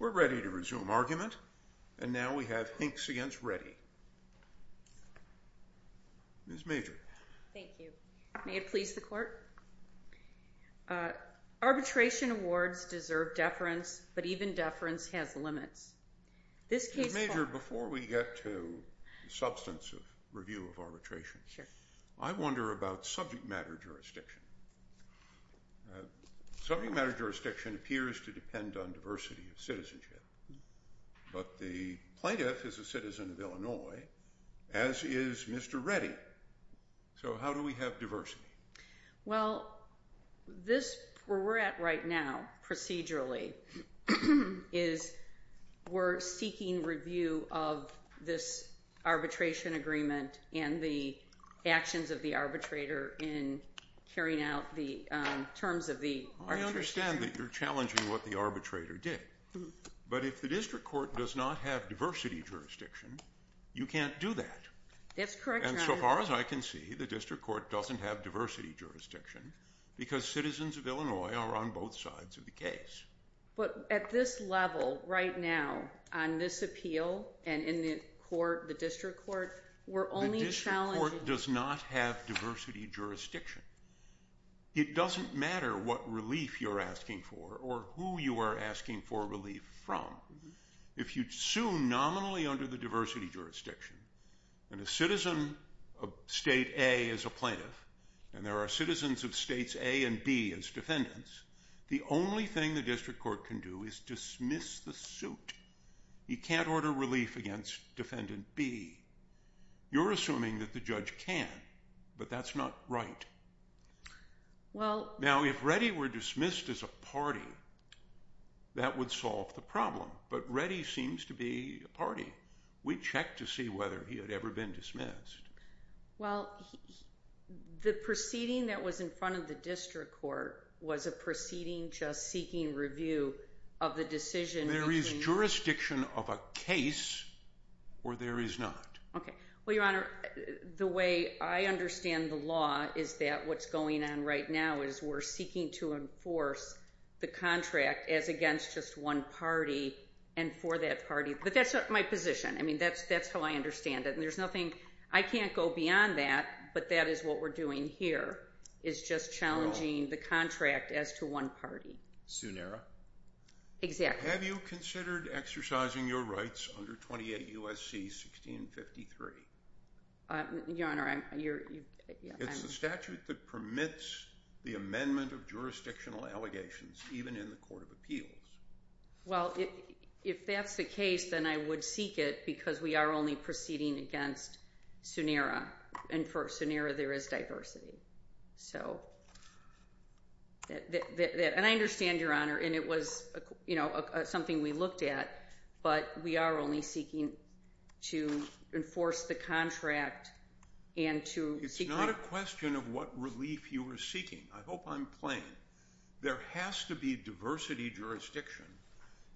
We're ready to resume argument, and now we have Hinkes v. Reddy. Ms. Major. Thank you. May it please the Court? Arbitration awards deserve deference, but even deference has limits. Ms. Major, before we get to the substance of review of arbitration, I wonder about subject matter jurisdiction. Subject matter jurisdiction appears to depend on diversity of citizenship, but the plaintiff is a citizen of Illinois, as is Mr. Reddy. So how do we have diversity? Well, where we're at right now, procedurally, is we're seeking review of this arbitration agreement and the actions of the arbitrator in carrying out the terms of the arbitration agreement. I understand that you're challenging what the arbitrator did, but if the district court does not have diversity jurisdiction, you can't do that. That's correct, Your Honor. And so far as I can see, the district court doesn't have diversity jurisdiction because citizens of Illinois are on both sides of the case. But at this level, right now, on this appeal and in the court, the district court, we're only challenging… The district court does not have diversity jurisdiction. It doesn't matter what relief you're asking for or who you are asking for relief from. If you sue nominally under the diversity jurisdiction, and a citizen of state A is a plaintiff, and there are citizens of states A and B as defendants, the only thing the district court can do is dismiss the suit. You can't order relief against defendant B. You're assuming that the judge can, but that's not right. Now, if Reddy were dismissed as a party, that would solve the problem, but Reddy seems to be a party. We checked to see whether he had ever been dismissed. Well, the proceeding that was in front of the district court was a proceeding just seeking review of the decision… There is jurisdiction of a case or there is not. Okay. Well, Your Honor, the way I understand the law is that what's going on right now is we're seeking to enforce the contract as against just one party and for that party. But that's not my position. I mean, that's how I understand it. And there's nothing… I can't go beyond that, but that is what we're doing here is just challenging the contract as to one party. Suneera? Exactly. Have you considered exercising your rights under 28 U.S.C. 1653? Your Honor, I'm… It's the statute that permits the amendment of jurisdictional allegations even in the court of appeals. Well, if that's the case, then I would seek it because we are only proceeding against Suneera, and for Suneera there is diversity. And I understand, Your Honor, and it was something we looked at, but we are only seeking to enforce the contract and to… It's not a question of what relief you are seeking. I hope I'm playing. There has to be diversity jurisdiction.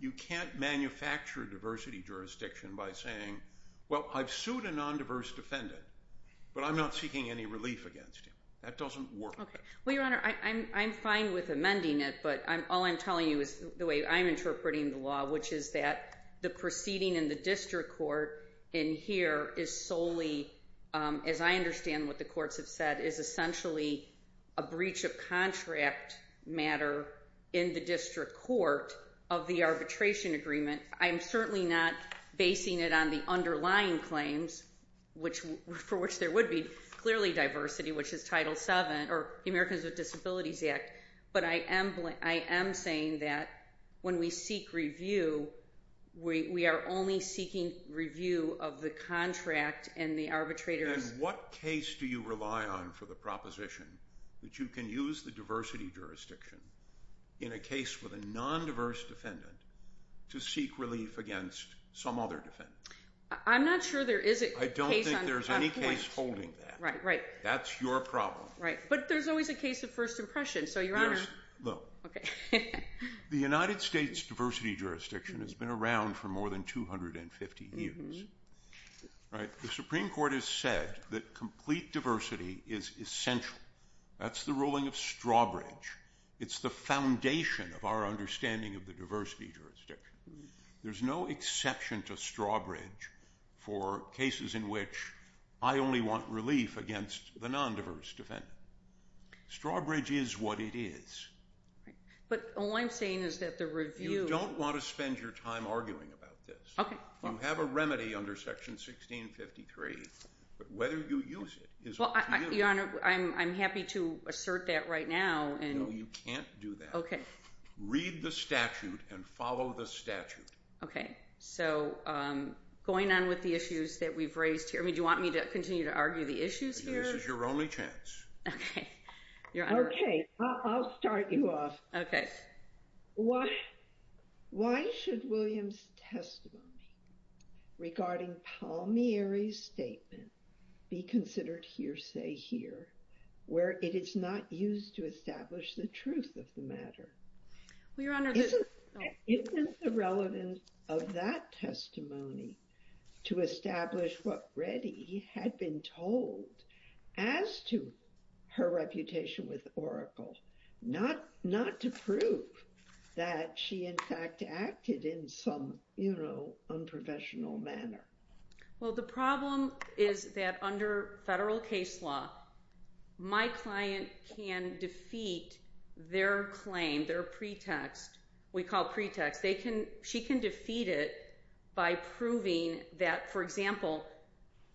You can't manufacture diversity jurisdiction by saying, well, I've sued a nondiverse defendant, but I'm not seeking any relief against him. That doesn't work. Well, Your Honor, I'm fine with amending it, but all I'm telling you is the way I'm interpreting the law, which is that the proceeding in the district court in here is solely, as I understand what the courts have said, is essentially a breach of contract matter in the district court of the arbitration agreement. I'm certainly not basing it on the underlying claims, for which there would be clearly diversity, which is Title VII or the Americans with Disabilities Act. But I am saying that when we seek review, we are only seeking review of the contract and the arbitrator's… What case do you rely on for the proposition that you can use the diversity jurisdiction in a case with a nondiverse defendant to seek relief against some other defendant? I'm not sure there is a case on that point. I don't think there's any case holding that. Right, right. That's your problem. Right, but there's always a case of first impression, so Your Honor… Yes. No. Okay. The United States diversity jurisdiction has been around for more than 250 years. The Supreme Court has said that complete diversity is essential. That's the ruling of Strawbridge. It's the foundation of our understanding of the diversity jurisdiction. There's no exception to Strawbridge for cases in which I only want relief against the nondiverse defendant. Strawbridge is what it is. But all I'm saying is that the review… You don't want to spend your time arguing about this. Okay. You have a remedy under Section 1653, but whether you use it is up to you. Your Honor, I'm happy to assert that right now. No, you can't do that. Okay. Read the statute and follow the statute. Okay. So, going on with the issues that we've raised here, do you want me to continue to argue the issues here? This is your only chance. Okay. Your Honor… Okay, I'll start you off. Okay. Why should Williams' testimony regarding Palmieri's statement be considered hearsay here, where it is not used to establish the truth of the matter? Well, Your Honor… Isn't it irrelevant of that testimony to establish what Reddy had been told as to her reputation with Oracle, not to prove that she, in fact, acted in some unprofessional manner? Well, the problem is that under federal case law, my client can defeat their claim, their pretext. We call it pretext. She can defeat it by proving that, for example,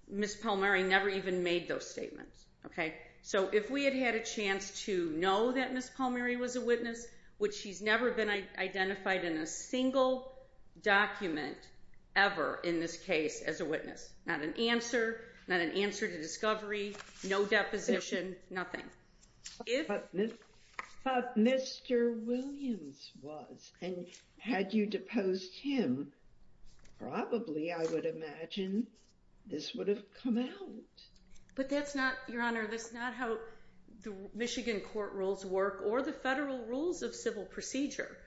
Ms. Palmieri never even made those statements. Okay? So, if we had had a chance to know that Ms. Palmieri was a witness, which she's never been identified in a single document ever in this case as a witness, not an answer, not an answer to discovery, no deposition, nothing. If Mr. Williams was and had you deposed him, probably, I would imagine, this would have come out. But that's not, Your Honor, that's not how the Michigan court rules work or the federal rules of civil procedure.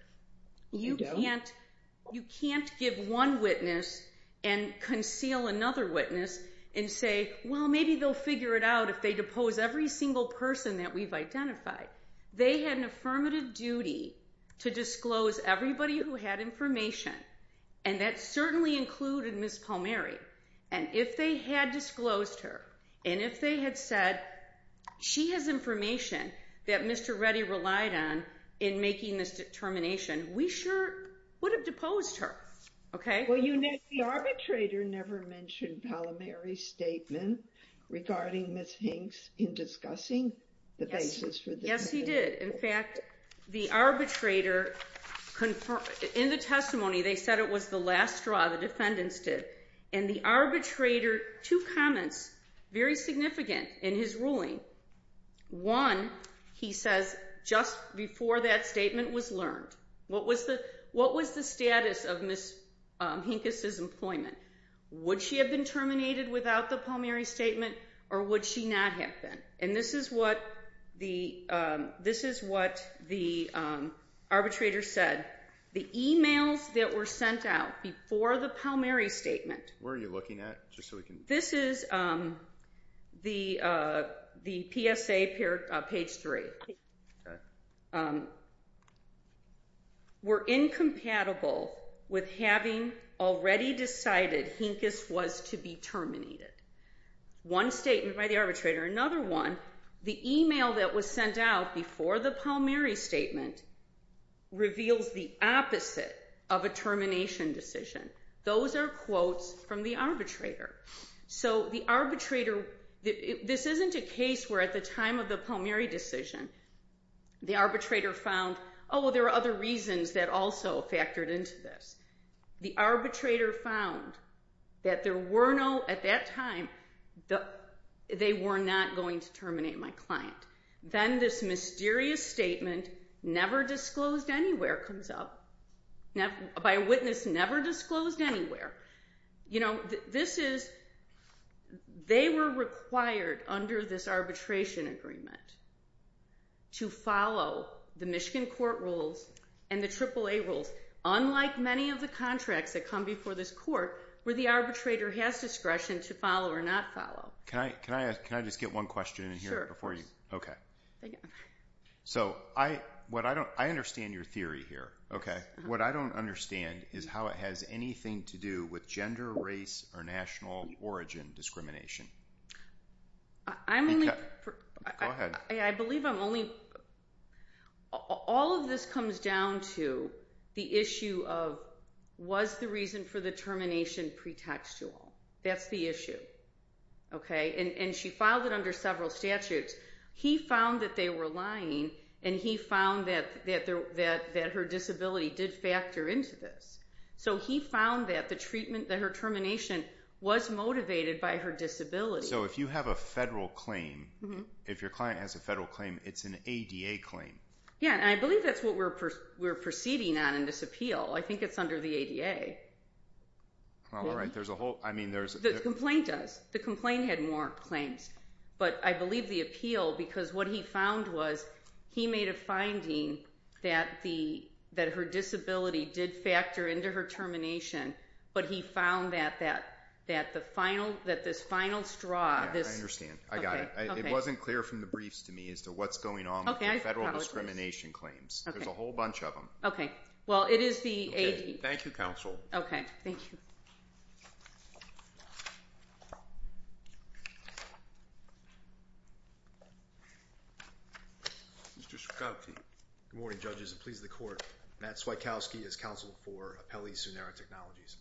You can't give one witness and conceal another witness and say, well, maybe they'll figure it out if they depose every single person that we've identified. They had an affirmative duty to disclose everybody who had information, and that certainly included Ms. Palmieri. And if they had disclosed her and if they had said, she has information that Mr. Reddy relied on in making this determination, we sure would have deposed her. Well, the arbitrator never mentioned Palmieri's statement regarding Ms. Hinks in discussing the basis for the testimony. Yes, he did. In fact, the arbitrator, in the testimony, they said it was the last straw, the defendants did, and the arbitrator, two comments, very significant in his ruling. One, he says, just before that statement was learned, what was the status of Ms. Hinkes's employment? Would she have been terminated without the Palmieri statement or would she not have been? And this is what the arbitrator said. The emails that were sent out before the Palmieri statement. Where are you looking at? This is the PSA, page 3. Were incompatible with having already decided Hinkes was to be terminated. One statement by the arbitrator. Another one, the email that was sent out before the Palmieri statement reveals the opposite of a termination decision. Those are quotes from the arbitrator. So the arbitrator, this isn't a case where at the time of the Palmieri decision, the arbitrator found, oh, there are other reasons that also factored into this. The arbitrator found that there were no, at that time, they were not going to terminate my client. Then this mysterious statement, never disclosed anywhere, comes up. By a witness, never disclosed anywhere. You know, this is, they were required under this arbitration agreement to follow the Michigan court rules and the AAA rules. Unlike many of the contracts that come before this court, where the arbitrator has discretion to follow or not follow. Can I just get one question in here? Okay. So, I understand your theory here. Okay. What I don't understand is how it has anything to do with gender, race, or national origin discrimination. I'm only... Go ahead. I believe I'm only... All of this comes down to the issue of, was the reason for the termination pretextual? That's the issue. Okay? And she filed it under several statutes. He found that they were lying, and he found that her disability did factor into this. So he found that the treatment, that her termination was motivated by her disability. So if you have a federal claim, if your client has a federal claim, it's an ADA claim. Yeah, and I believe that's what we're proceeding on in this appeal. I think it's under the ADA. All right, there's a whole... The complaint does. The complaint had more claims. But I believe the appeal, because what he found was, he made a finding that her disability did factor into her termination. But he found that this final straw... Yeah, I understand. I got it. It wasn't clear from the briefs to me as to what's going on with the federal discrimination claims. There's a whole bunch of them. Okay. Well, it is the ADA. Okay, thank you, counsel. Okay, thank you. Mr. Swieckowski. Good morning, judges, and please, the court. Matt Swieckowski is counsel for Appellee Sonera Technologies.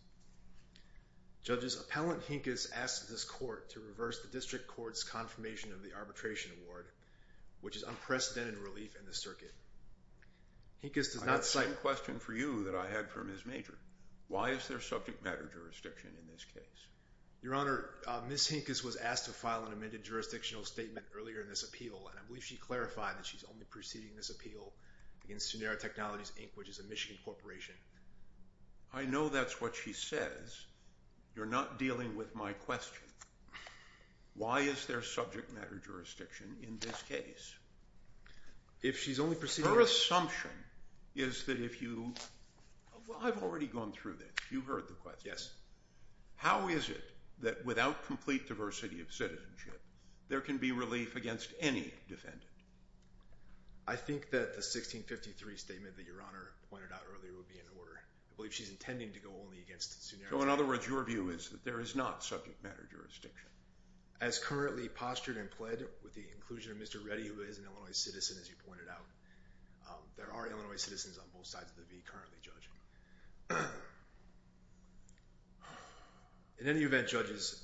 Judges, Appellant Hinkes asked this court to reverse the district court's confirmation of the arbitration award, which is unprecedented relief in the circuit. Hinkes does not cite... I have the same question for you that I had for Ms. Major. Why is there subject matter jurisdiction in this case? Your Honor, Ms. Hinkes was asked to file an amended jurisdictional statement earlier in this appeal, and I believe she clarified that she's only proceeding this appeal against Sonera Technologies, Inc., which is a Michigan corporation. I know that's what she says. You're not dealing with my question. Why is there subject matter jurisdiction in this case? If she's only proceeding... Her assumption is that if you... Well, I've already gone through this. You've heard the question. Yes. How is it that without complete diversity of citizenship, there can be relief against any defendant? I think that the 1653 statement that Your Honor pointed out earlier would be in order. I believe she's intending to go only against Sonera Technologies. So, in other words, your view is that there is not subject matter jurisdiction? As currently postured and pled with the inclusion of Mr. Reddy, who is an Illinois citizen, as you pointed out, there are Illinois citizens on both sides of the V currently, Judge. In any event, Judges,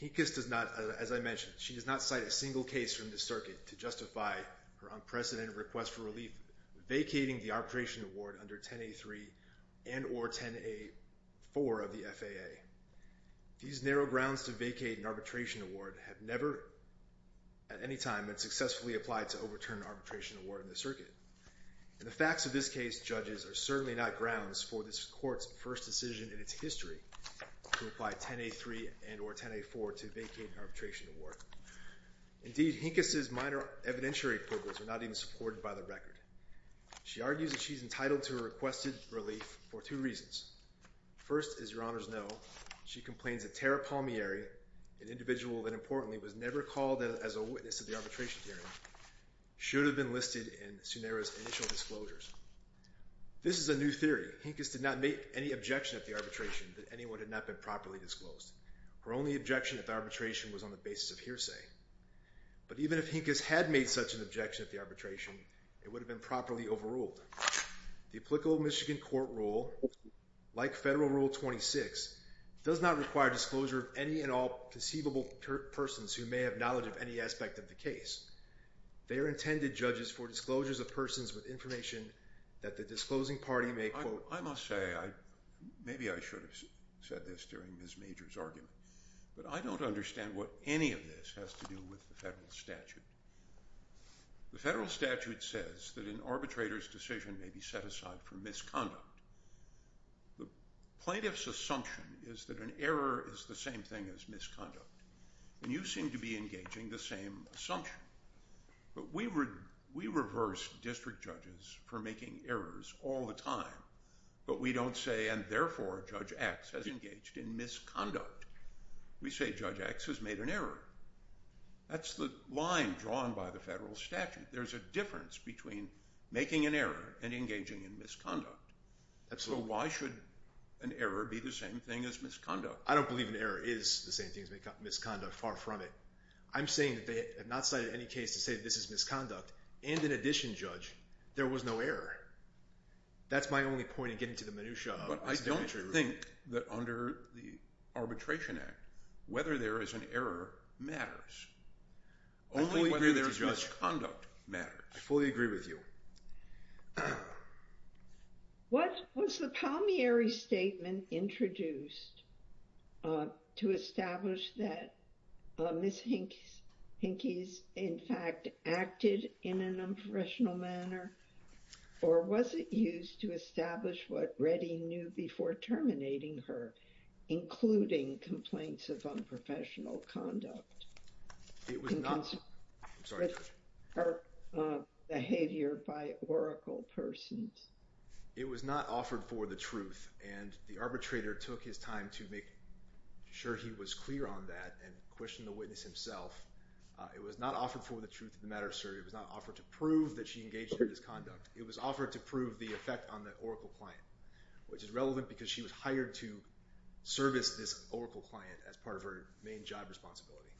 Hinkes does not, as I mentioned, she does not cite a single case from the circuit to justify her unprecedented request for relief, vacating the arbitration award under 10A3 and or 10A4 of the FAA. These narrow grounds to vacate an arbitration award have never, at any time, been successfully applied to overturn an arbitration award in the circuit. And the facts of this case, Judges, are certainly not grounds for this court's first decision in its history to apply 10A3 and or 10A4 to vacate an arbitration award. Indeed, Hinkes' minor evidentiary quibbles are not even supported by the record. She argues that she's entitled to a requested relief for two reasons. First, as your honors know, she complains that Tara Palmieri, an individual that importantly was never called as a witness to the arbitration hearing, should have been listed in Sunera's initial disclosures. This is a new theory. Hinkes did not make any objection at the arbitration that anyone had not been properly disclosed. Her only objection at the arbitration was on the basis of hearsay. But even if Hinkes had made such an objection at the arbitration, it would have been properly overruled. Second, the applicable Michigan court rule, like Federal Rule 26, does not require disclosure of any and all conceivable persons who may have knowledge of any aspect of the case. They are intended, Judges, for disclosures of persons with information that the disclosing party may quote. I must say, maybe I should have said this during Ms. Major's argument, but I don't understand what any of this has to do with the Federal statute. The Federal statute says that an arbitrator's decision may be set aside for misconduct. The plaintiff's assumption is that an error is the same thing as misconduct, and you seem to be engaging the same assumption. But we reverse district judges for making errors all the time, but we don't say, and therefore Judge X has engaged in misconduct. We say Judge X has made an error. That's the line drawn by the Federal statute. There's a difference between making an error and engaging in misconduct. So why should an error be the same thing as misconduct? I don't believe an error is the same thing as misconduct. Far from it. I'm saying that they have not cited any case to say that this is misconduct, and in addition, Judge, there was no error. That's my only point in getting to the minutiae. But I don't think that under the Arbitration Act, whether there is an error matters. Only whether there is misconduct matters. I fully agree with you. What was the Palmieri statement introduced to establish that Miss Hinckley's, in fact, acted in an unprofessional manner? Or was it used to establish what Redding knew before terminating her, including complaints of unprofessional conduct? It was not. I'm sorry, Judge. Her behavior by Oracle persons. It was not offered for the truth, and the arbitrator took his time to make sure he was clear on that and questioned the witness himself. It was not offered for the truth of the matter, sir. It was not offered to prove that she engaged in misconduct. It was offered to prove the effect on the Oracle client, which is relevant because she was hired to service this Oracle client as part of her main job responsibility.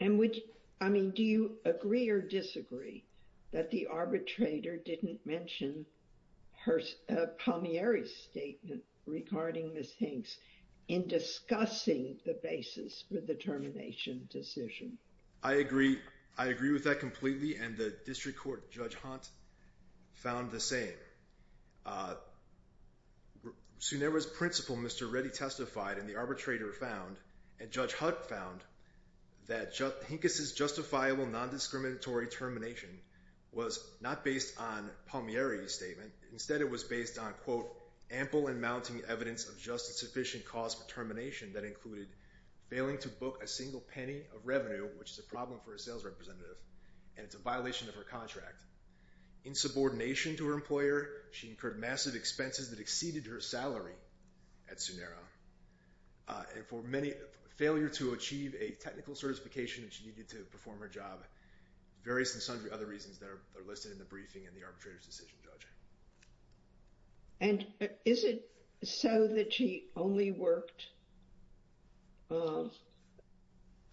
And which, I mean, do you agree or disagree that the arbitrator didn't mention her Palmieri statement regarding Miss Hinckley's in discussing the basis for the termination decision? I agree. I agree with that completely. And the district court, Judge Hunt, found the same. Soon there was principle. Mr. Reddy testified in the arbitrator found and Judge Hunt found that just Hinkes is justifiable. Non-discriminatory termination was not based on Palmieri statement. Instead, it was based on, quote, ample and mounting evidence of justice, sufficient cause for termination. That included failing to book a single penny of revenue, which is a problem for a sales representative, and it's a violation of her contract. In subordination to her employer, she incurred massive expenses that exceeded her salary at Sunera. And for many, failure to achieve a technical certification that she needed to perform her job, various and sundry other reasons that are listed in the briefing and the arbitrator's decision, Judge. And is it so that she only worked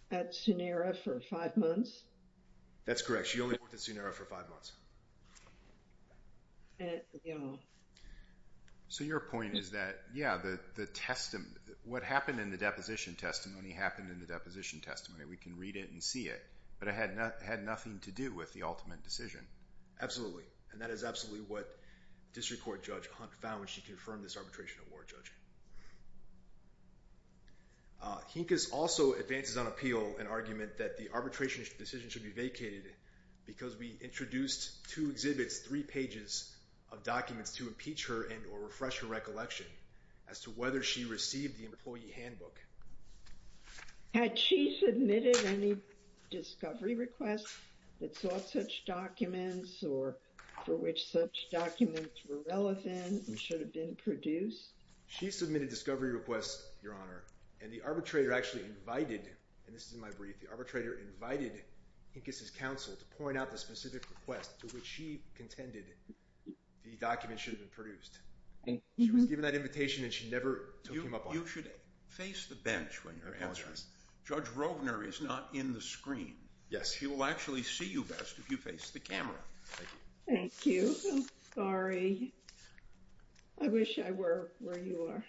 at Sunera for five months? That's correct. She only worked at Sunera for five months. So your point is that, yeah, the testimony, what happened in the deposition testimony happened in the deposition testimony. We can read it and see it. But it had nothing to do with the ultimate decision. Absolutely. And that is absolutely what district court Judge Hunt found when she confirmed this arbitration award, Judge. Hinkes also advances on appeal an argument that the arbitration decision should be vacated because we introduced two exhibits, three pages of documents to impeach her and or refresh her recollection as to whether she received the employee handbook. Had she submitted any discovery requests that sought such documents or for which such documents were relevant and should have been produced? She submitted discovery requests, Your Honor. And the arbitrator actually invited, and this is in my brief, the arbitrator invited Hinkes's counsel to point out the specific request to which she contended the document should have been produced. She was given that invitation and she never took him up on it. You should face the bench when you're answering. Judge Rovner is not in the screen. Yes. He will actually see you best if you face the camera. Thank you. I'm sorry. I wish I were where you are.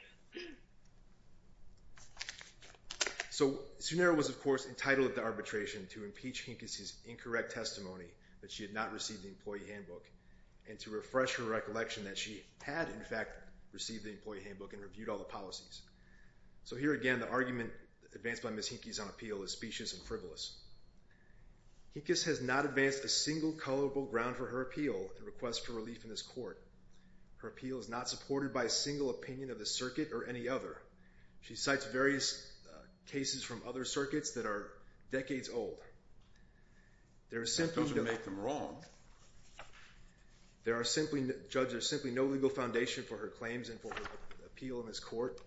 So Sunera was, of course, entitled to arbitration to impeach Hinkes's incorrect testimony that she had not received the employee handbook and to refresh her recollection that she had, in fact, received the employee handbook and reviewed all the policies. So here again, the argument advanced by Ms. Hinkes on appeal is specious and frivolous. Hinkes has not advanced a single colorable ground for her appeal and request for relief in this court. Her appeal is not supported by a single opinion of the circuit or any other. She cites various cases from other circuits that are decades old. That doesn't make them wrong. Judge, there's simply no legal foundation for her claims and for her appeal in this court.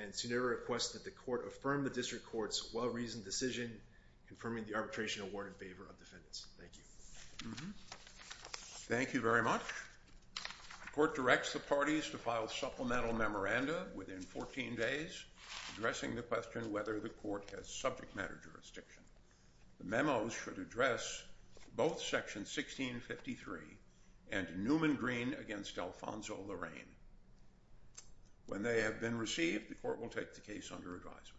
And Sunera requests that the court affirm the district court's well-reasoned decision confirming the arbitration award in favor of defendants. Thank you. Thank you very much. The court directs the parties to file supplemental memoranda within 14 days addressing the question whether the court has subject matter jurisdiction. The memos should address both Section 1653 and Newman Green v. Alfonso Lorraine. When they have been received, the court will take the case under advisement.